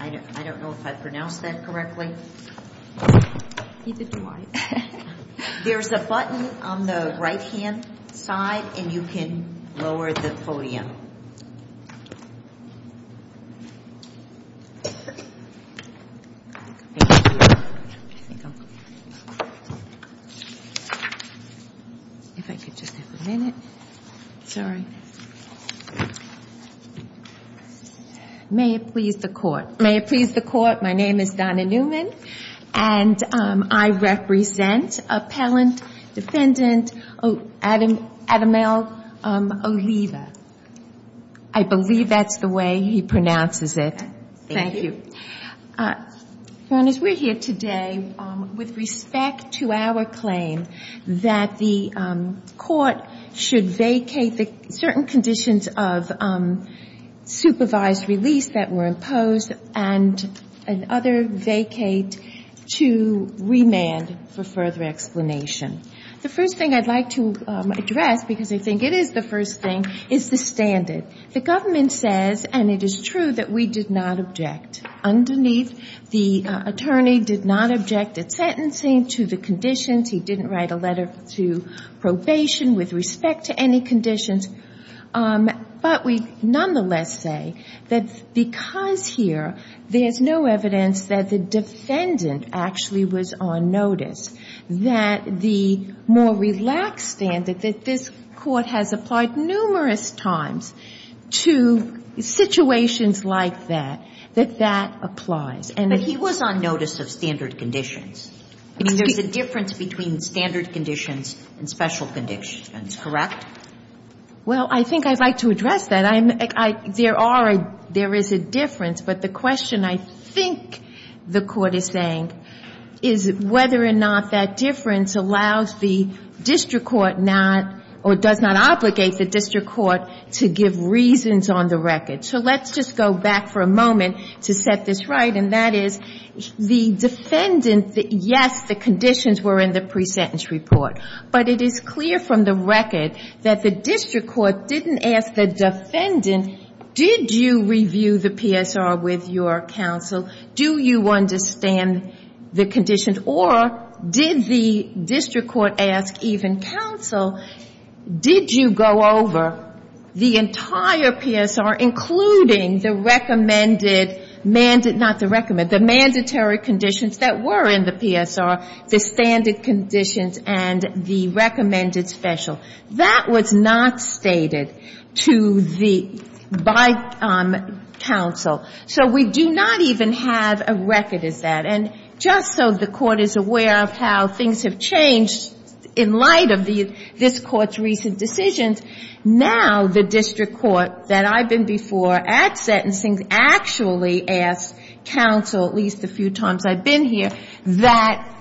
I don't know if I pronounced that correctly. There's a button on the right hand side and you can lower the podium. If I could just have a minute. Sorry. May it please the court. May it please the court. My name is Donna Newman and I represent Appellant Defendant Adam L. Oliva. I believe that's the way he pronounces it. Thank you. Your Honor, we're here today with respect to our claim that the court should vacate the certain conditions of supervised release that were imposed and other vacate to remand for further explanation. The first thing I'd like to address, because I think it is the first thing, is the standard. The government says, and it is true, that we did not object. Underneath, the attorney did not object at sentencing to the conditions. He didn't write a letter to probation with respect to any conditions. But we nonetheless say that because here there's no evidence that the defendant actually was on notice, that the more relaxed standard that this court has applied numerous times to situations like that, that that applies. But he was on notice of standard conditions. I mean, there's a difference between standard conditions and special conditions, correct? Well, I think I'd like to address that. There is a difference, but the question I think the court is saying is whether or not that difference allows the district court not, or does not obligate the district court to give reasons on the record. So let's just go back for a moment to set this right, and that is the defendant, yes, the conditions were in the pre-sentence report. But it is clear from the record that the district court didn't ask the defendant, did you review the PSR with your counsel? Do you understand the conditions? Or did the district court ask even counsel, did you go over the entire PSR, including the recommended, not the recommended, the mandatory conditions that were in the PSR, the standard conditions and the recommended special? That was not stated to the, by counsel. So we do not even have a record as that. And just so the court is aware of how things have changed in light of the, this court's recent decisions, now the district court that I've been before at sentencing actually asked counsel, at least a few times I've been here, that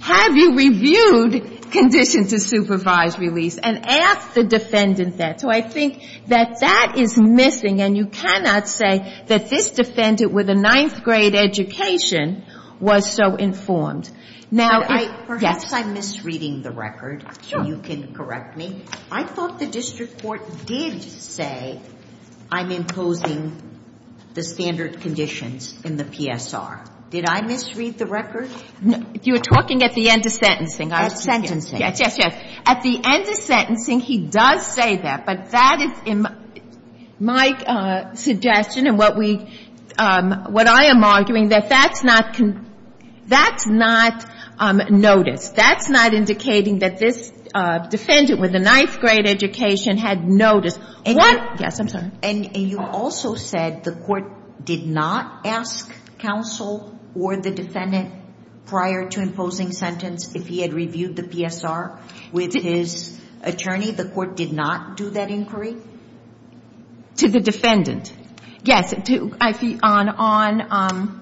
have you reviewed condition to supervise release? And asked the defendant that. So I think that that is missing, and you cannot say that this defendant with a ninth grade education was so informed. Now, yes. Perhaps I'm misreading the record. Sure. You can correct me. I thought the district court did say I'm imposing the standard conditions in the PSR. Did I misread the record? No. If you were talking at the end of sentencing. At sentencing. Yes, yes, yes. At the end of sentencing, he does say that. But that is my suggestion and what we, what I am arguing that that's not, that's not noticed. That's not indicating that this defendant with a ninth grade education had noticed. What? Yes, I'm sorry. And you also said the court did not ask counsel or the defendant prior to imposing sentence if he had reviewed the PSR with his attorney? The court did not do that inquiry? To the defendant. Yes. On,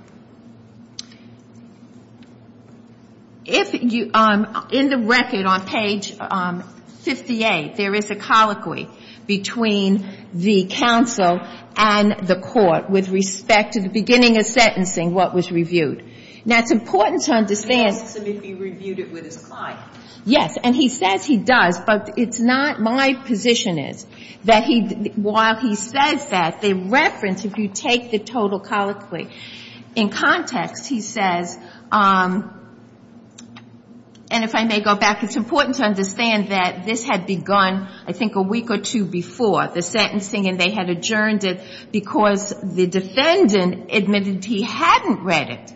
if you, in the record on page 58, there is a colloquy between the counsel and the court with respect to the beginning of sentencing, what was reviewed. Now, it's important to understand. He asked him if he reviewed it with his client. Yes. And he says he does. But it's not my position is that he, while he says that, the reference, if you take the total colloquy in context, he says, and if I may go back, it's important to understand that this had begun I think a week or two before the sentencing and they had adjourned it because the defendant admitted he hadn't read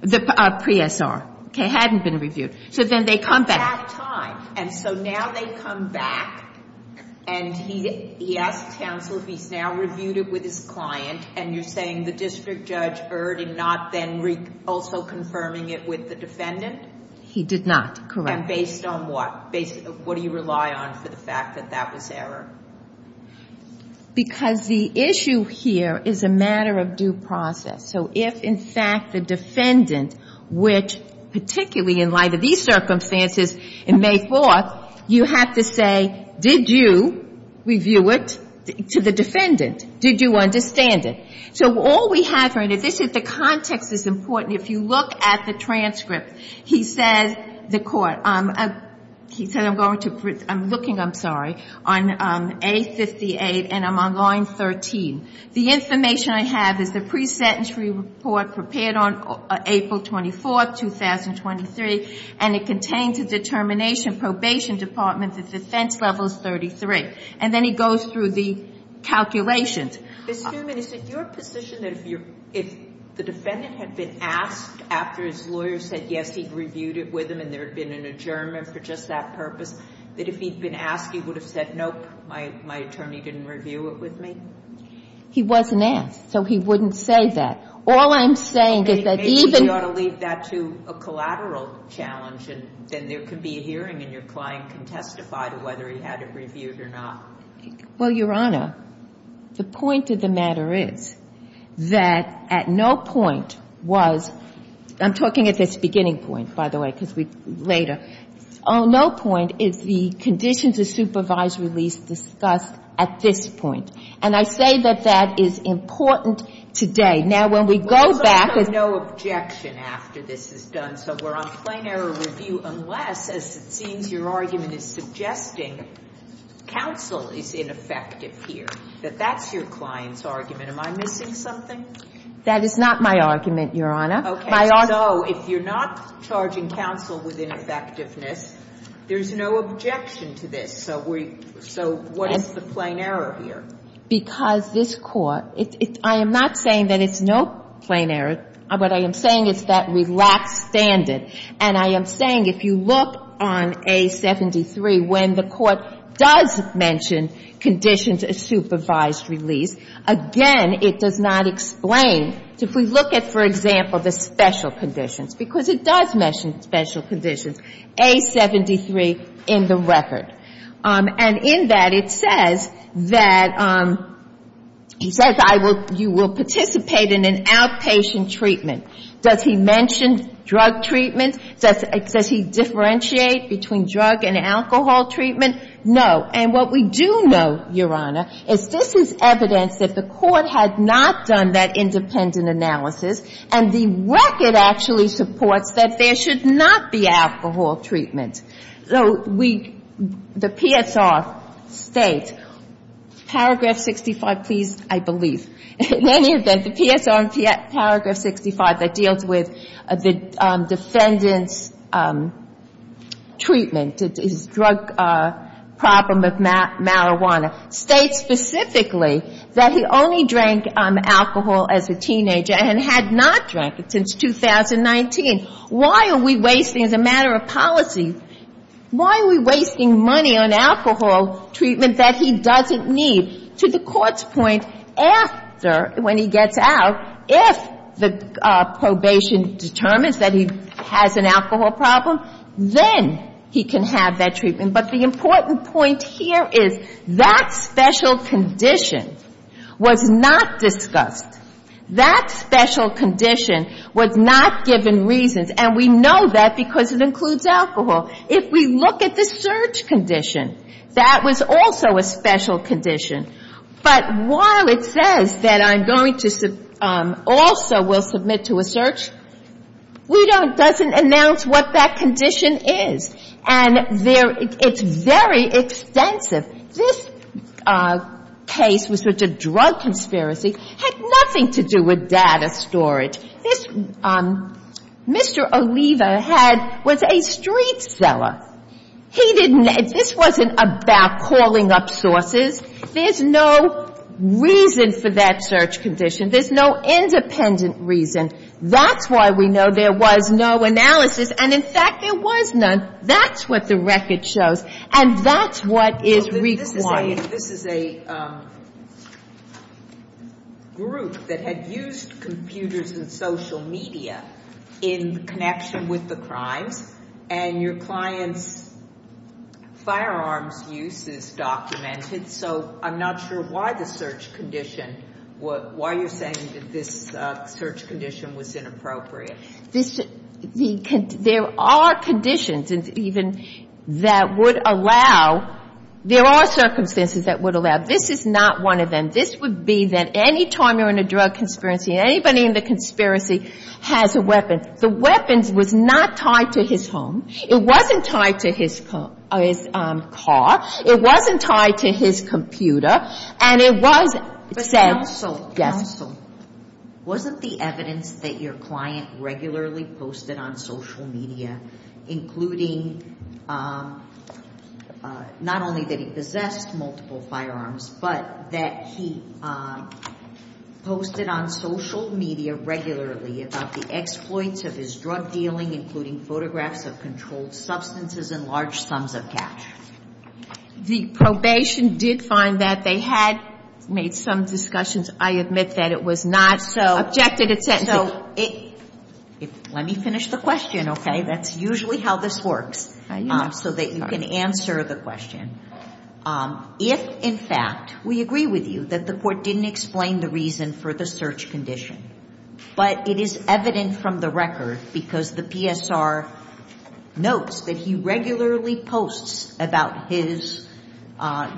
the PSR, hadn't been reviewed. So then they come back. At that time. And so now they come back and he asks counsel if he's now reviewed it with his client and you're saying the district judge erred in not then also confirming it with the defendant? He did not, correct. And based on what? What do you rely on for the fact that that was error? Because the issue here is a matter of due process. So if in fact the defendant, which particularly in light of these circumstances in May 4th, you have to say, did you review it to the defendant? Did you understand it? So all we have here, and the context is important, if you look at the transcript, he said the court, he said I'm going to, I'm looking, I'm sorry, on A58 and I'm on line 13. The information I have is the pre-sentence report prepared on April 24th, 2023, and it contains a determination, probation department, the defense level is 33. And then he goes through the calculations. Ms. Newman, is it your position that if the defendant had been asked after his case, he'd reviewed it with him and there had been an adjournment for just that purpose, that if he'd been asked, he would have said, nope, my attorney didn't review it with me? He wasn't asked, so he wouldn't say that. All I'm saying is that even. Maybe you ought to leave that to a collateral challenge and then there can be a hearing and your client can testify to whether he had it reviewed or not. Well, Your Honor, the point of the matter is that at no point was, I'm talking at this beginning point, by the way, because we, later, oh, no point is the condition to supervise release discussed at this point. And I say that that is important today. Now, when we go back. There's no objection after this is done, so we're on plain error review unless, as it seems, your argument is suggesting counsel is ineffective here, that that's your client's argument. Am I missing something? That is not my argument, Your Honor. Okay. So if you're not charging counsel with ineffectiveness, there's no objection to this. So what is the plain error here? Because this Court, I am not saying that it's no plain error, but I am saying it's that relaxed standard. And I am saying if you look on A73, when the Court does mention conditions of supervised release, again, it does not explain. If we look at, for example, the special conditions, because it does mention special conditions, A73 in the record. And in that, it says that you will participate in an outpatient treatment. Does he mention drug treatment? Does he differentiate between drug and alcohol treatment? No. And what we do know, Your Honor, is this is evidence that the Court had not done that independent analysis, and the record actually supports that there should not be alcohol treatment. So we, the PSR states, paragraph 65, please, I believe. In any event, the PSR in paragraph 65 that deals with the defendant's treatment, his drug problem of marijuana, states specifically that he only drank alcohol as a teenager and had not drank it since 2019. Why are we wasting, as a matter of policy, why are we wasting money on alcohol treatment that he doesn't need? To the Court's point, after, when he gets out, if the probation determines that he has an alcohol problem, then he can have that treatment. But the important point here is that special condition was not discussed. That special condition was not given reasons, and we know that because it includes a search condition. That was also a special condition. But while it says that I'm going to also will submit to a search, we don't, doesn't announce what that condition is. And there, it's very extensive. This case was such a drug conspiracy, had nothing to do with data storage. This, Mr. Oliva had, was a street seller. He didn't, this wasn't about calling up sources. There's no reason for that search condition. There's no independent reason. That's why we know there was no analysis, and in fact, there was none. That's what the record shows, and that's what is required. If this is a group that had used computers and social media in connection with the crimes, and your client's firearms use is documented, so I'm not sure why the search condition, why you're saying that this search condition was inappropriate. There are conditions even that would allow, there are circumstances that would allow. This is not one of them. This would be that any time you're in a drug conspiracy and anybody in the conspiracy has a weapon, the weapon was not tied to his home. It wasn't tied to his car. It wasn't tied to his computer. And it was said. Counsel, wasn't the evidence that your client regularly posted on social media, including not only that he possessed multiple firearms, but that he posted on social media regularly about the exploits of his drug dealing, including photographs of controlled substances and large sums of cash? In those discussions, I admit that it was not so. Let me finish the question, okay? That's usually how this works, so that you can answer the question. If, in fact, we agree with you that the court didn't explain the reason for the search condition, but it is evident from the record, because the PSR notes that he regularly posts about his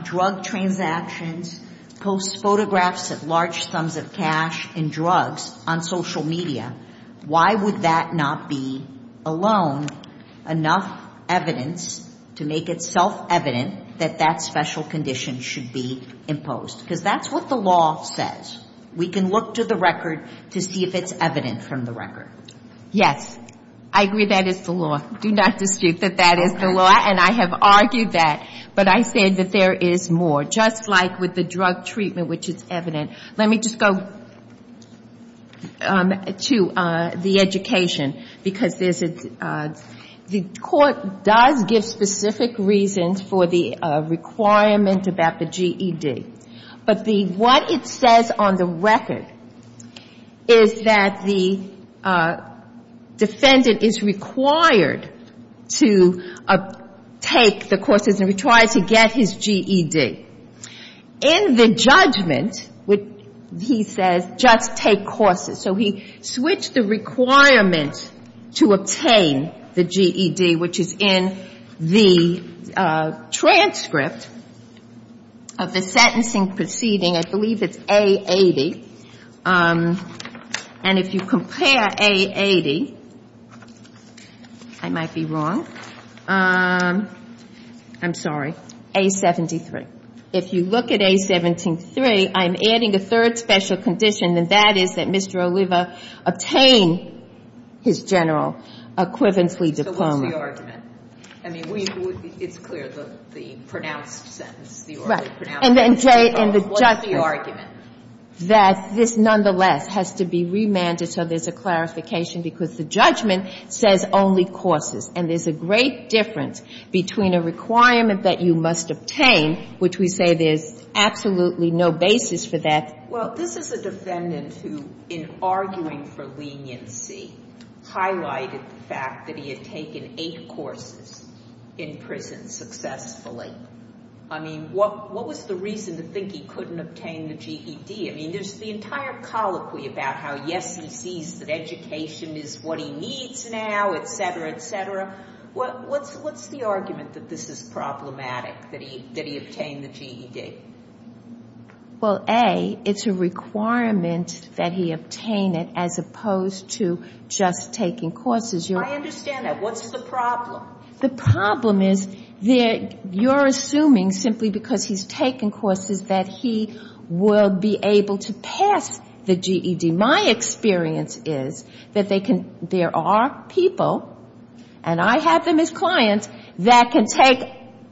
drug transactions, posts photographs of large sums of cash and drugs on social media, why would that not be alone enough evidence to make itself evident that that special condition should be imposed? Because that's what the law says. We can look to the record to see if it's evident from the record. Yes. I agree that it's the law. Do not dispute that that is the law. And I have argued that. But I said that there is more, just like with the drug treatment, which is evident. Let me just go to the education, because the court does give specific reasons for the requirement about the GED. But what it says on the record is that the defendant is required to take the courses and is required to get his GED. In the judgment, he says, just take courses. So he switched the requirement to obtain the GED, which is in the transcript of the sentencing proceeding. I believe it's A-80. And if you compare A-80, I might be wrong. I'm sorry. A-73. If you look at A-73, I'm adding a third special condition, and that is that Mr. Oliva obtain his general equivalently diploma. So what's the argument? I mean, it's clear, the pronounced sentence, the orally pronounced sentence. And then, Jay, in the judgment, that this, nonetheless, has to be remanded so there's a clarification, because the judgment says only courses. And there's a great difference between a requirement that you must obtain, which we say there's absolutely no basis for that. Well, this is a defendant who, in arguing for leniency, highlighted the fact that he had taken eight courses in prison successfully. I mean, what was the reason to think he couldn't obtain the GED? I mean, there's the entire colloquy about how, yes, he sees that education is what he needs now, et cetera, et cetera. What's the argument that this is problematic, that he obtained the GED? Well, A, it's a requirement that he obtain it as opposed to just taking courses. I understand that. What's the problem? The problem is you're assuming simply because he's taken courses that he will be able to pass the GED. My experience is that there are people, and I have them as clients, that can take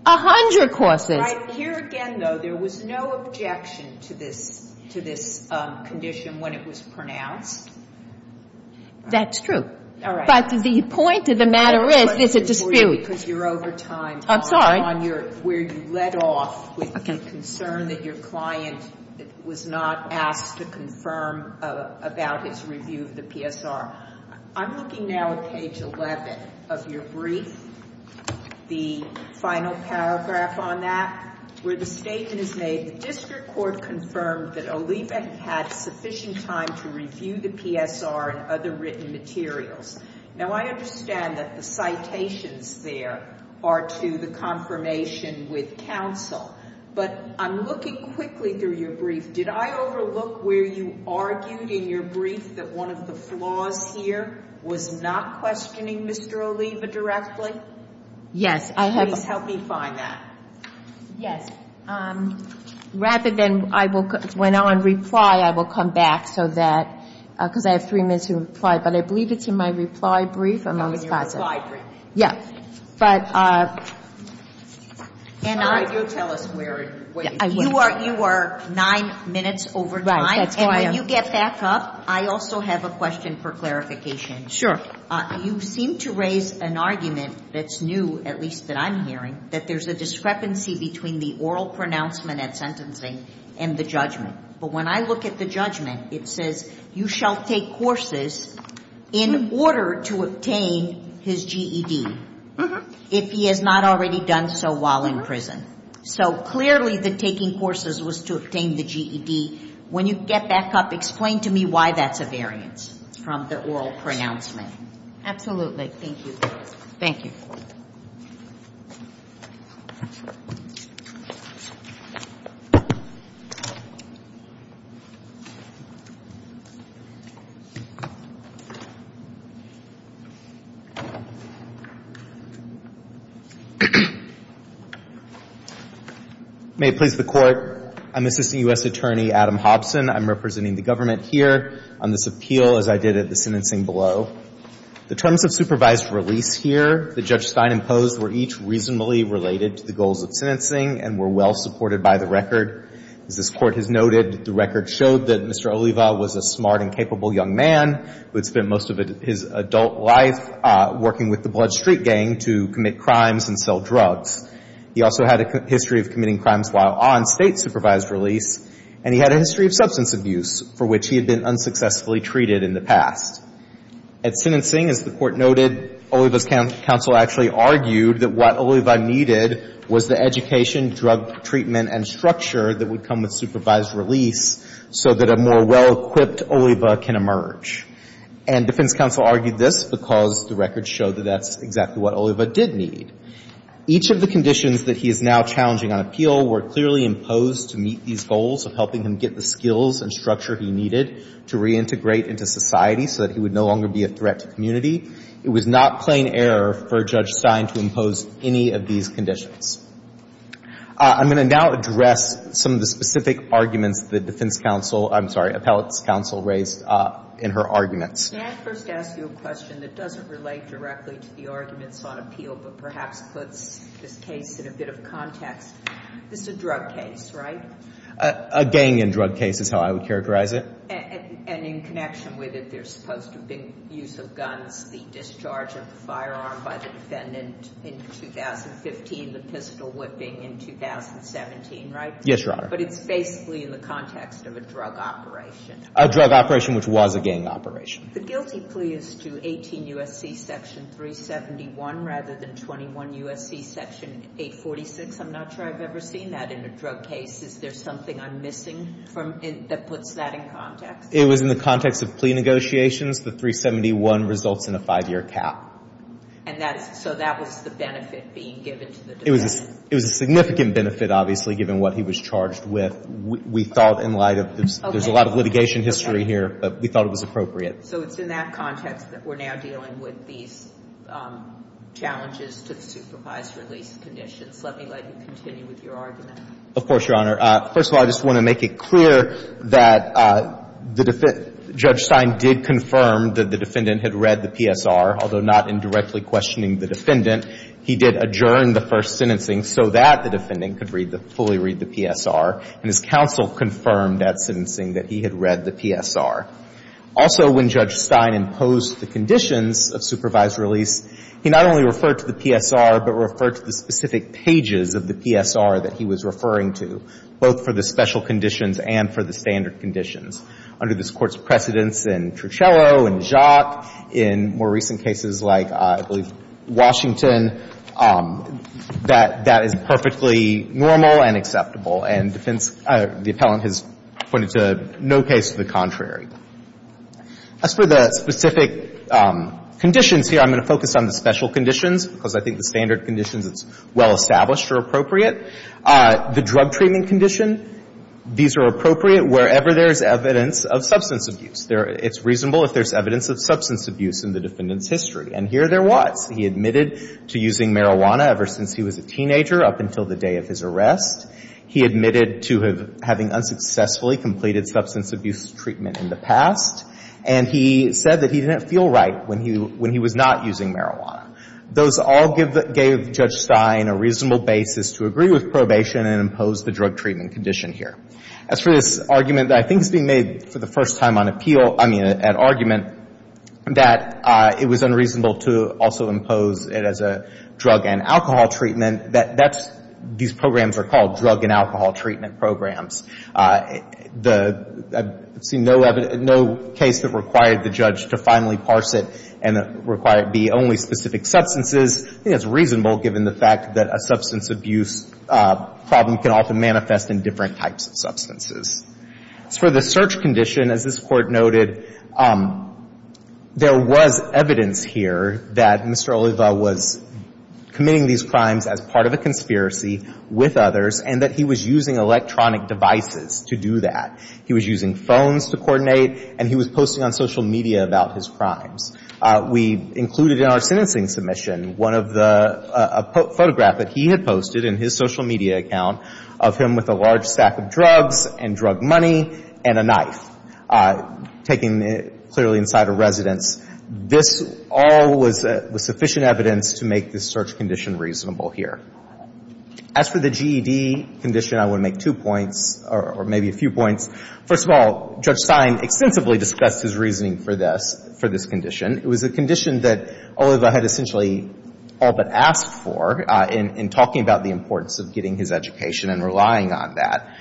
a hundred courses. Right. Here again, though, there was no objection to this condition when it was pronounced. That's true. All right. But the point of the matter is there's a dispute. I'm sorry. Because you're over time. I'm sorry. On your, where you led off with the concern that your client was not asked to confirm about his review of the PSR. I'm looking now at page 11 of your brief, the final paragraph on that, where the statement is made, the district court confirmed that there was no objection to the PSR and other written materials. Now, I understand that the citations there are to the confirmation with counsel. But I'm looking quickly through your brief. Did I overlook where you argued in your brief that one of the flaws here was not questioning Mr. Oliva directly? Yes. Please help me find that. Yes. Rather than I will, when I reply, I will come back so that, because I have three minutes to reply, but I believe it's in my reply brief. Not in your reply brief. Yes. But you tell us where it is. You are nine minutes over time. And when you get back up, I also have a question for clarification. Sure. You seem to raise an argument that's new, at least that I'm hearing, that there's a discrepancy between the oral pronouncement and that sentencing and the judgment. But when I look at the judgment, it says, you shall take courses in order to obtain his GED if he has not already done so while in prison. So clearly the taking courses was to obtain the GED. When you get back up, explain to me why that's a variance from the oral pronouncement. Absolutely. Thank you. Thank you. May it please the Court, I'm Assistant U.S. Attorney Adam Hobson. I'm representing the government here on this appeal as I did at the sentencing below. The terms of supervised release here that Judge Stein imposed were each reasonably related to the goals of sentencing and were well supported by the record. As this Court has noted, the record showed that Mr. Oliva was a smart and capable young man who had spent most of his adult life working with the Blood Street Gang to commit crimes and sell drugs. He also had a history of committing crimes while on State supervised release, and he had a history of substance abuse for which he had been unsuccessfully treated in the past. At sentencing, as the Court noted, Oliva's counsel actually argued that what Oliva needed was the education and drug treatment and structure that would come with supervised release so that a more well-equipped Oliva can emerge. And defense counsel argued this because the record showed that that's exactly what Oliva did need. Each of the conditions that he is now challenging on appeal were clearly imposed to meet these goals of helping him get the skills and structure he needed to reintegrate into society so that he would no longer be a threat to community. It was not plain error for Judge Stein to impose any of these conditions. I'm going to now address some of the specific arguments the defense counsel, I'm sorry, appellate's counsel raised in her arguments. May I first ask you a question that doesn't relate directly to the arguments on appeal but perhaps puts this case in a bit of context? This is a drug case, right? A gang and drug case is how I would characterize it. And in connection with it, there's supposed to have been use of guns, the discharge of the firearm by the defendant in 2015, the pistol whipping in 2017, right? Yes, Your Honor. But it's basically in the context of a drug operation. A drug operation which was a gang operation. The guilty plea is to 18 U.S.C. section 371 rather than 21 U.S.C. section 846. I'm not sure I've ever seen that in a drug case. Is there something I'm missing that puts that in context? It was in the context of plea negotiations. The 371 results in a five-year cap. And so that was the benefit being given to the defense? It was a significant benefit, obviously, given what he was charged with. We thought in light of this, there's a lot of litigation history here, but we thought it was appropriate. So it's in that context that we're now dealing with these challenges to the supervised release conditions. Let me let you continue with your argument. Of course, Your Honor. First of all, I just want to make it clear that Judge Stein did confirm that the defendant had read the PSR, although not indirectly questioning the defendant. He did adjourn the first sentencing so that the defendant could fully read the PSR. And his counsel confirmed at sentencing that he had read the PSR. Also, when Judge Stein imposed the conditions of supervised release, he not only referred to the PSR, but referred to the specific pages of the PSR that he was referring to, both for the special conditions and for the standard conditions. Under this Court's precedence in Trucello and Jacques, in more recent cases like, I believe, Washington, that that is perfectly normal and acceptable. And defense, the appellant has pointed to no case to the contrary. As for the specific conditions here, I'm going to focus on the special conditions because I think the standard conditions that's well established are appropriate. The drug treatment condition, these are appropriate wherever there's evidence of substance abuse. It's reasonable if there's evidence of substance abuse in the defendant's history. And here there was. He admitted to using marijuana ever since he was a teenager up until the day of his arrest. He admitted to having unsuccessfully completed substance abuse treatment in the past. And he said that he didn't feel right when he was not using marijuana. Those all gave Judge Stein a reasonable basis to agree with probation and impose the drug treatment condition here. As for this argument that I think is being made for the first time on appeal, I mean, an argument that it was unreasonable to also impose it as a drug and alcohol treatment, and that's, these programs are called drug and alcohol treatment programs. The, I've seen no case that required the judge to finally parse it and require it be only specific substances. I think that's reasonable given the fact that a substance abuse problem can often manifest in different types of substances. As for the search condition, as this Court noted, there was evidence here that Mr. Stein was part of a conspiracy with others and that he was using electronic devices to do that. He was using phones to coordinate, and he was posting on social media about his crimes. We included in our sentencing submission one of the, a photograph that he had posted in his social media account of him with a large sack of drugs and drug money and a knife taken clearly inside a residence. This all was sufficient evidence to make the search condition reasonable here. As for the GED condition, I would make two points or maybe a few points. First of all, Judge Stein extensively discussed his reasoning for this, for this condition. It was a condition that Oliva had essentially all but asked for in talking about the importance of getting his education and relying on that.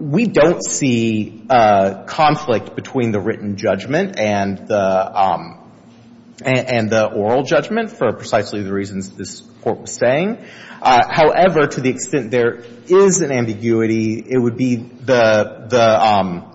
We don't see conflict between the written judgment and the, and the oral judgment for precisely the reasons this Court was saying. However, to the extent there is an ambiguity, it would be the,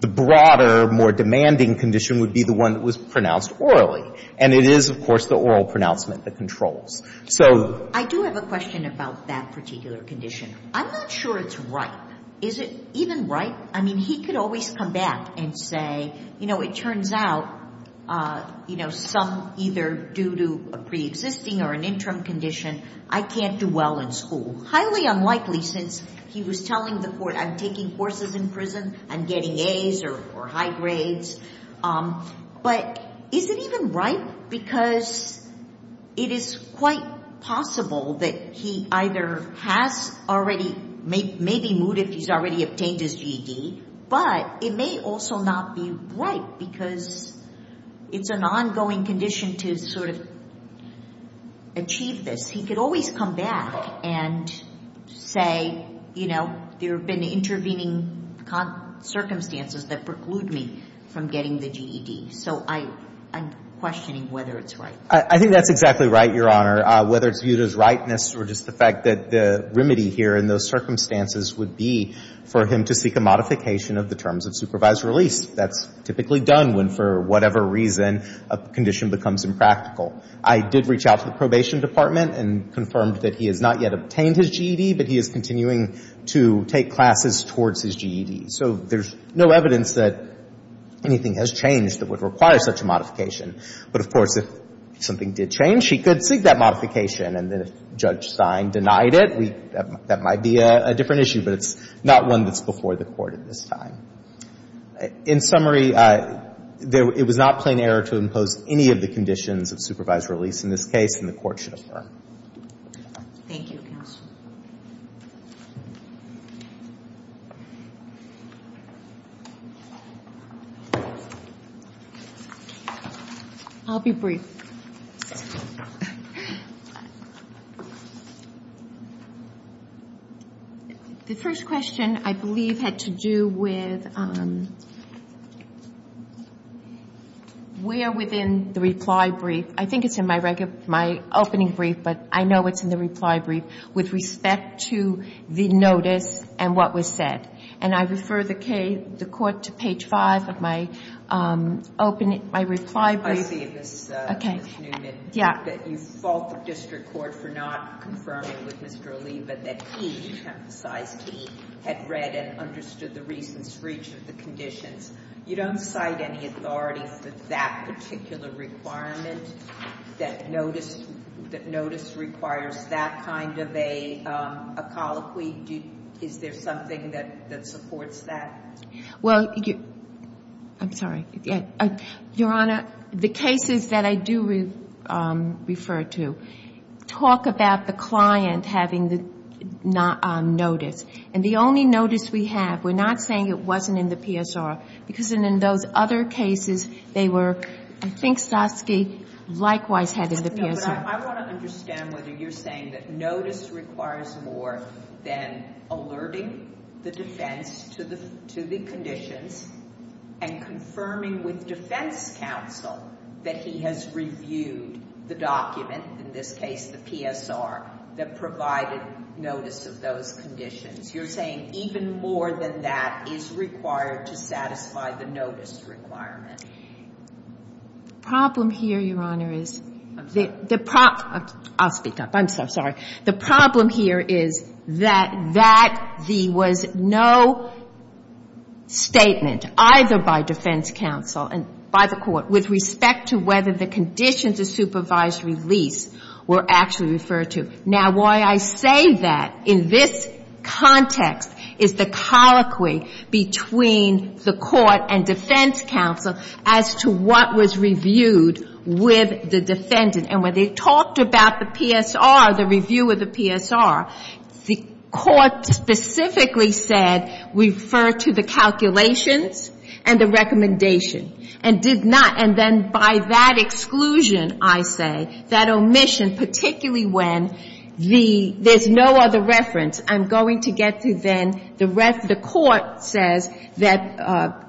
the broader, more demanding condition would be the one that was pronounced orally. And it is, of course, the oral pronouncement that controls. So I do have a question about that particular condition. I'm not sure it's ripe. Is it even ripe? I mean, he could always come back and say, you know, it turns out, you know, some either due to a preexisting or an interim condition, I can't do well in school. Highly unlikely since he was telling the Court I'm taking courses in prison, I'm getting A's or, or high grades. But is it even ripe? Because it is quite possible that he either has already, may be moot if he's already obtained his GED, but it may also not be ripe because it's an ongoing condition to sort of achieve this. He could always come back and say, you know, there have been intervening circumstances that preclude me from getting the GED. So I'm questioning whether it's ripe. I think that's exactly right, Your Honor. Whether it's viewed as ripeness or just the fact that the remedy here in those circumstances would be for him to seek a modification of the terms of supervised release. That's typically done when, for whatever reason, a condition becomes impractical. I did reach out to the Probation Department and confirmed that he has not yet obtained his GED, but he is continuing to take classes towards his GED. So there's no evidence that anything has changed that would require such a modification. But, of course, if something did change, he could seek that modification. And then if Judge Stein denied it, that might be a different issue. But it's not one that's before the Court at this time. In summary, it was not plain error to impose any of the conditions of supervised release in this case, and the Court should affirm. Thank you, counsel. I'll be brief. The first question, I believe, had to do with where within the reply brief. I think it's in my opening brief, but I know it's in the reply brief, with respect to the notice and what was said. And I refer the Court to page 5 of my reply brief. I see, Ms. Newman, that you fault the district court for not confirming with Mr. Ali, but that he emphasized he had read and understood the reasons for each of the conditions. You don't cite any authority for that particular requirement, that notice requires that kind of a colloquy? Is there something that supports that? Well, I'm sorry. Your Honor, the cases that I do refer to talk about the client having the notice. And the only notice we have, we're not saying it wasn't in the PSR, because in those other cases, they were, I think Soski likewise had in the PSR. No, but I want to understand whether you're saying that notice requires more than alerting the defense to the conditions and confirming with defense counsel that he has reviewed the document, in this case the PSR, that provided notice of those conditions. You're saying even more than that is required to satisfy the notice requirement. The problem here, Your Honor, is the problem. I'll speak up. I'm so sorry. The problem here is that that was no statement either by defense counsel and by the Court with respect to whether the conditions of supervised release were actually referred to. Now, why I say that in this context is the colloquy between the Court and defense counsel as to what was reviewed with the defendant. And when they talked about the PSR, the review of the PSR, the Court specifically said we refer to the calculations and the recommendation and did not. And then by that exclusion, I say that omission, particularly when there's no other reference, I'm going to get to then the court says that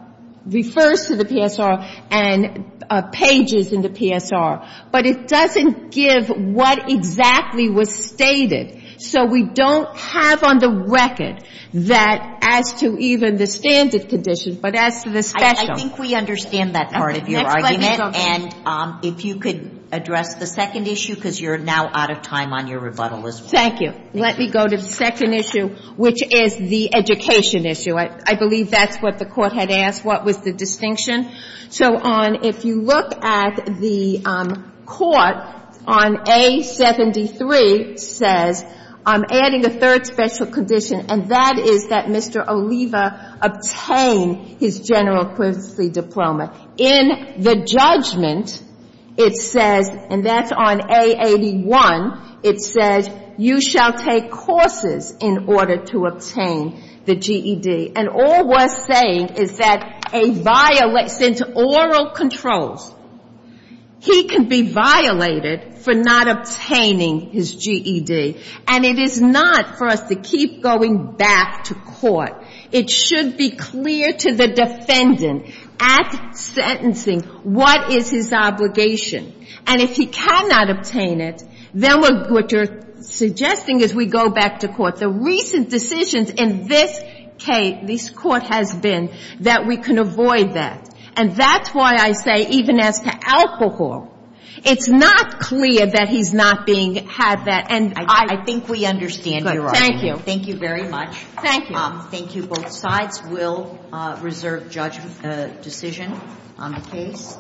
refers to the PSR and pages in the PSR, but it doesn't give what exactly was stated. So we don't have on the record that as to even the standard conditions, but as to the special. I think we understand that part of your argument. And if you could address the second issue, because you're now out of time on your rebuttal as well. Thank you. Let me go to the second issue, which is the education issue. I believe that's what the Court had asked, what was the distinction. So if you look at the Court on A73 says, I'm adding a third special condition, and that is that Mr. Oliva obtain his general equivalency diploma. In the judgment, it says, and that's on A81, it says, you shall take courses in order to obtain the GED. And all we're saying is that a violation to oral controls, he can be violated for not obtaining his GED. And it is not for us to keep going back to court. It should be clear to the defendant at sentencing what is his obligation. And if he cannot obtain it, then what you're suggesting is we go back to court. The recent decisions in this case, this Court has been, that we can avoid that. And that's why I say even as to alcohol, it's not clear that he's not being had by the court. And I think we understand your argument. Thank you very much. Thank you. Thank you. Both sides will reserve judgment decision on the case.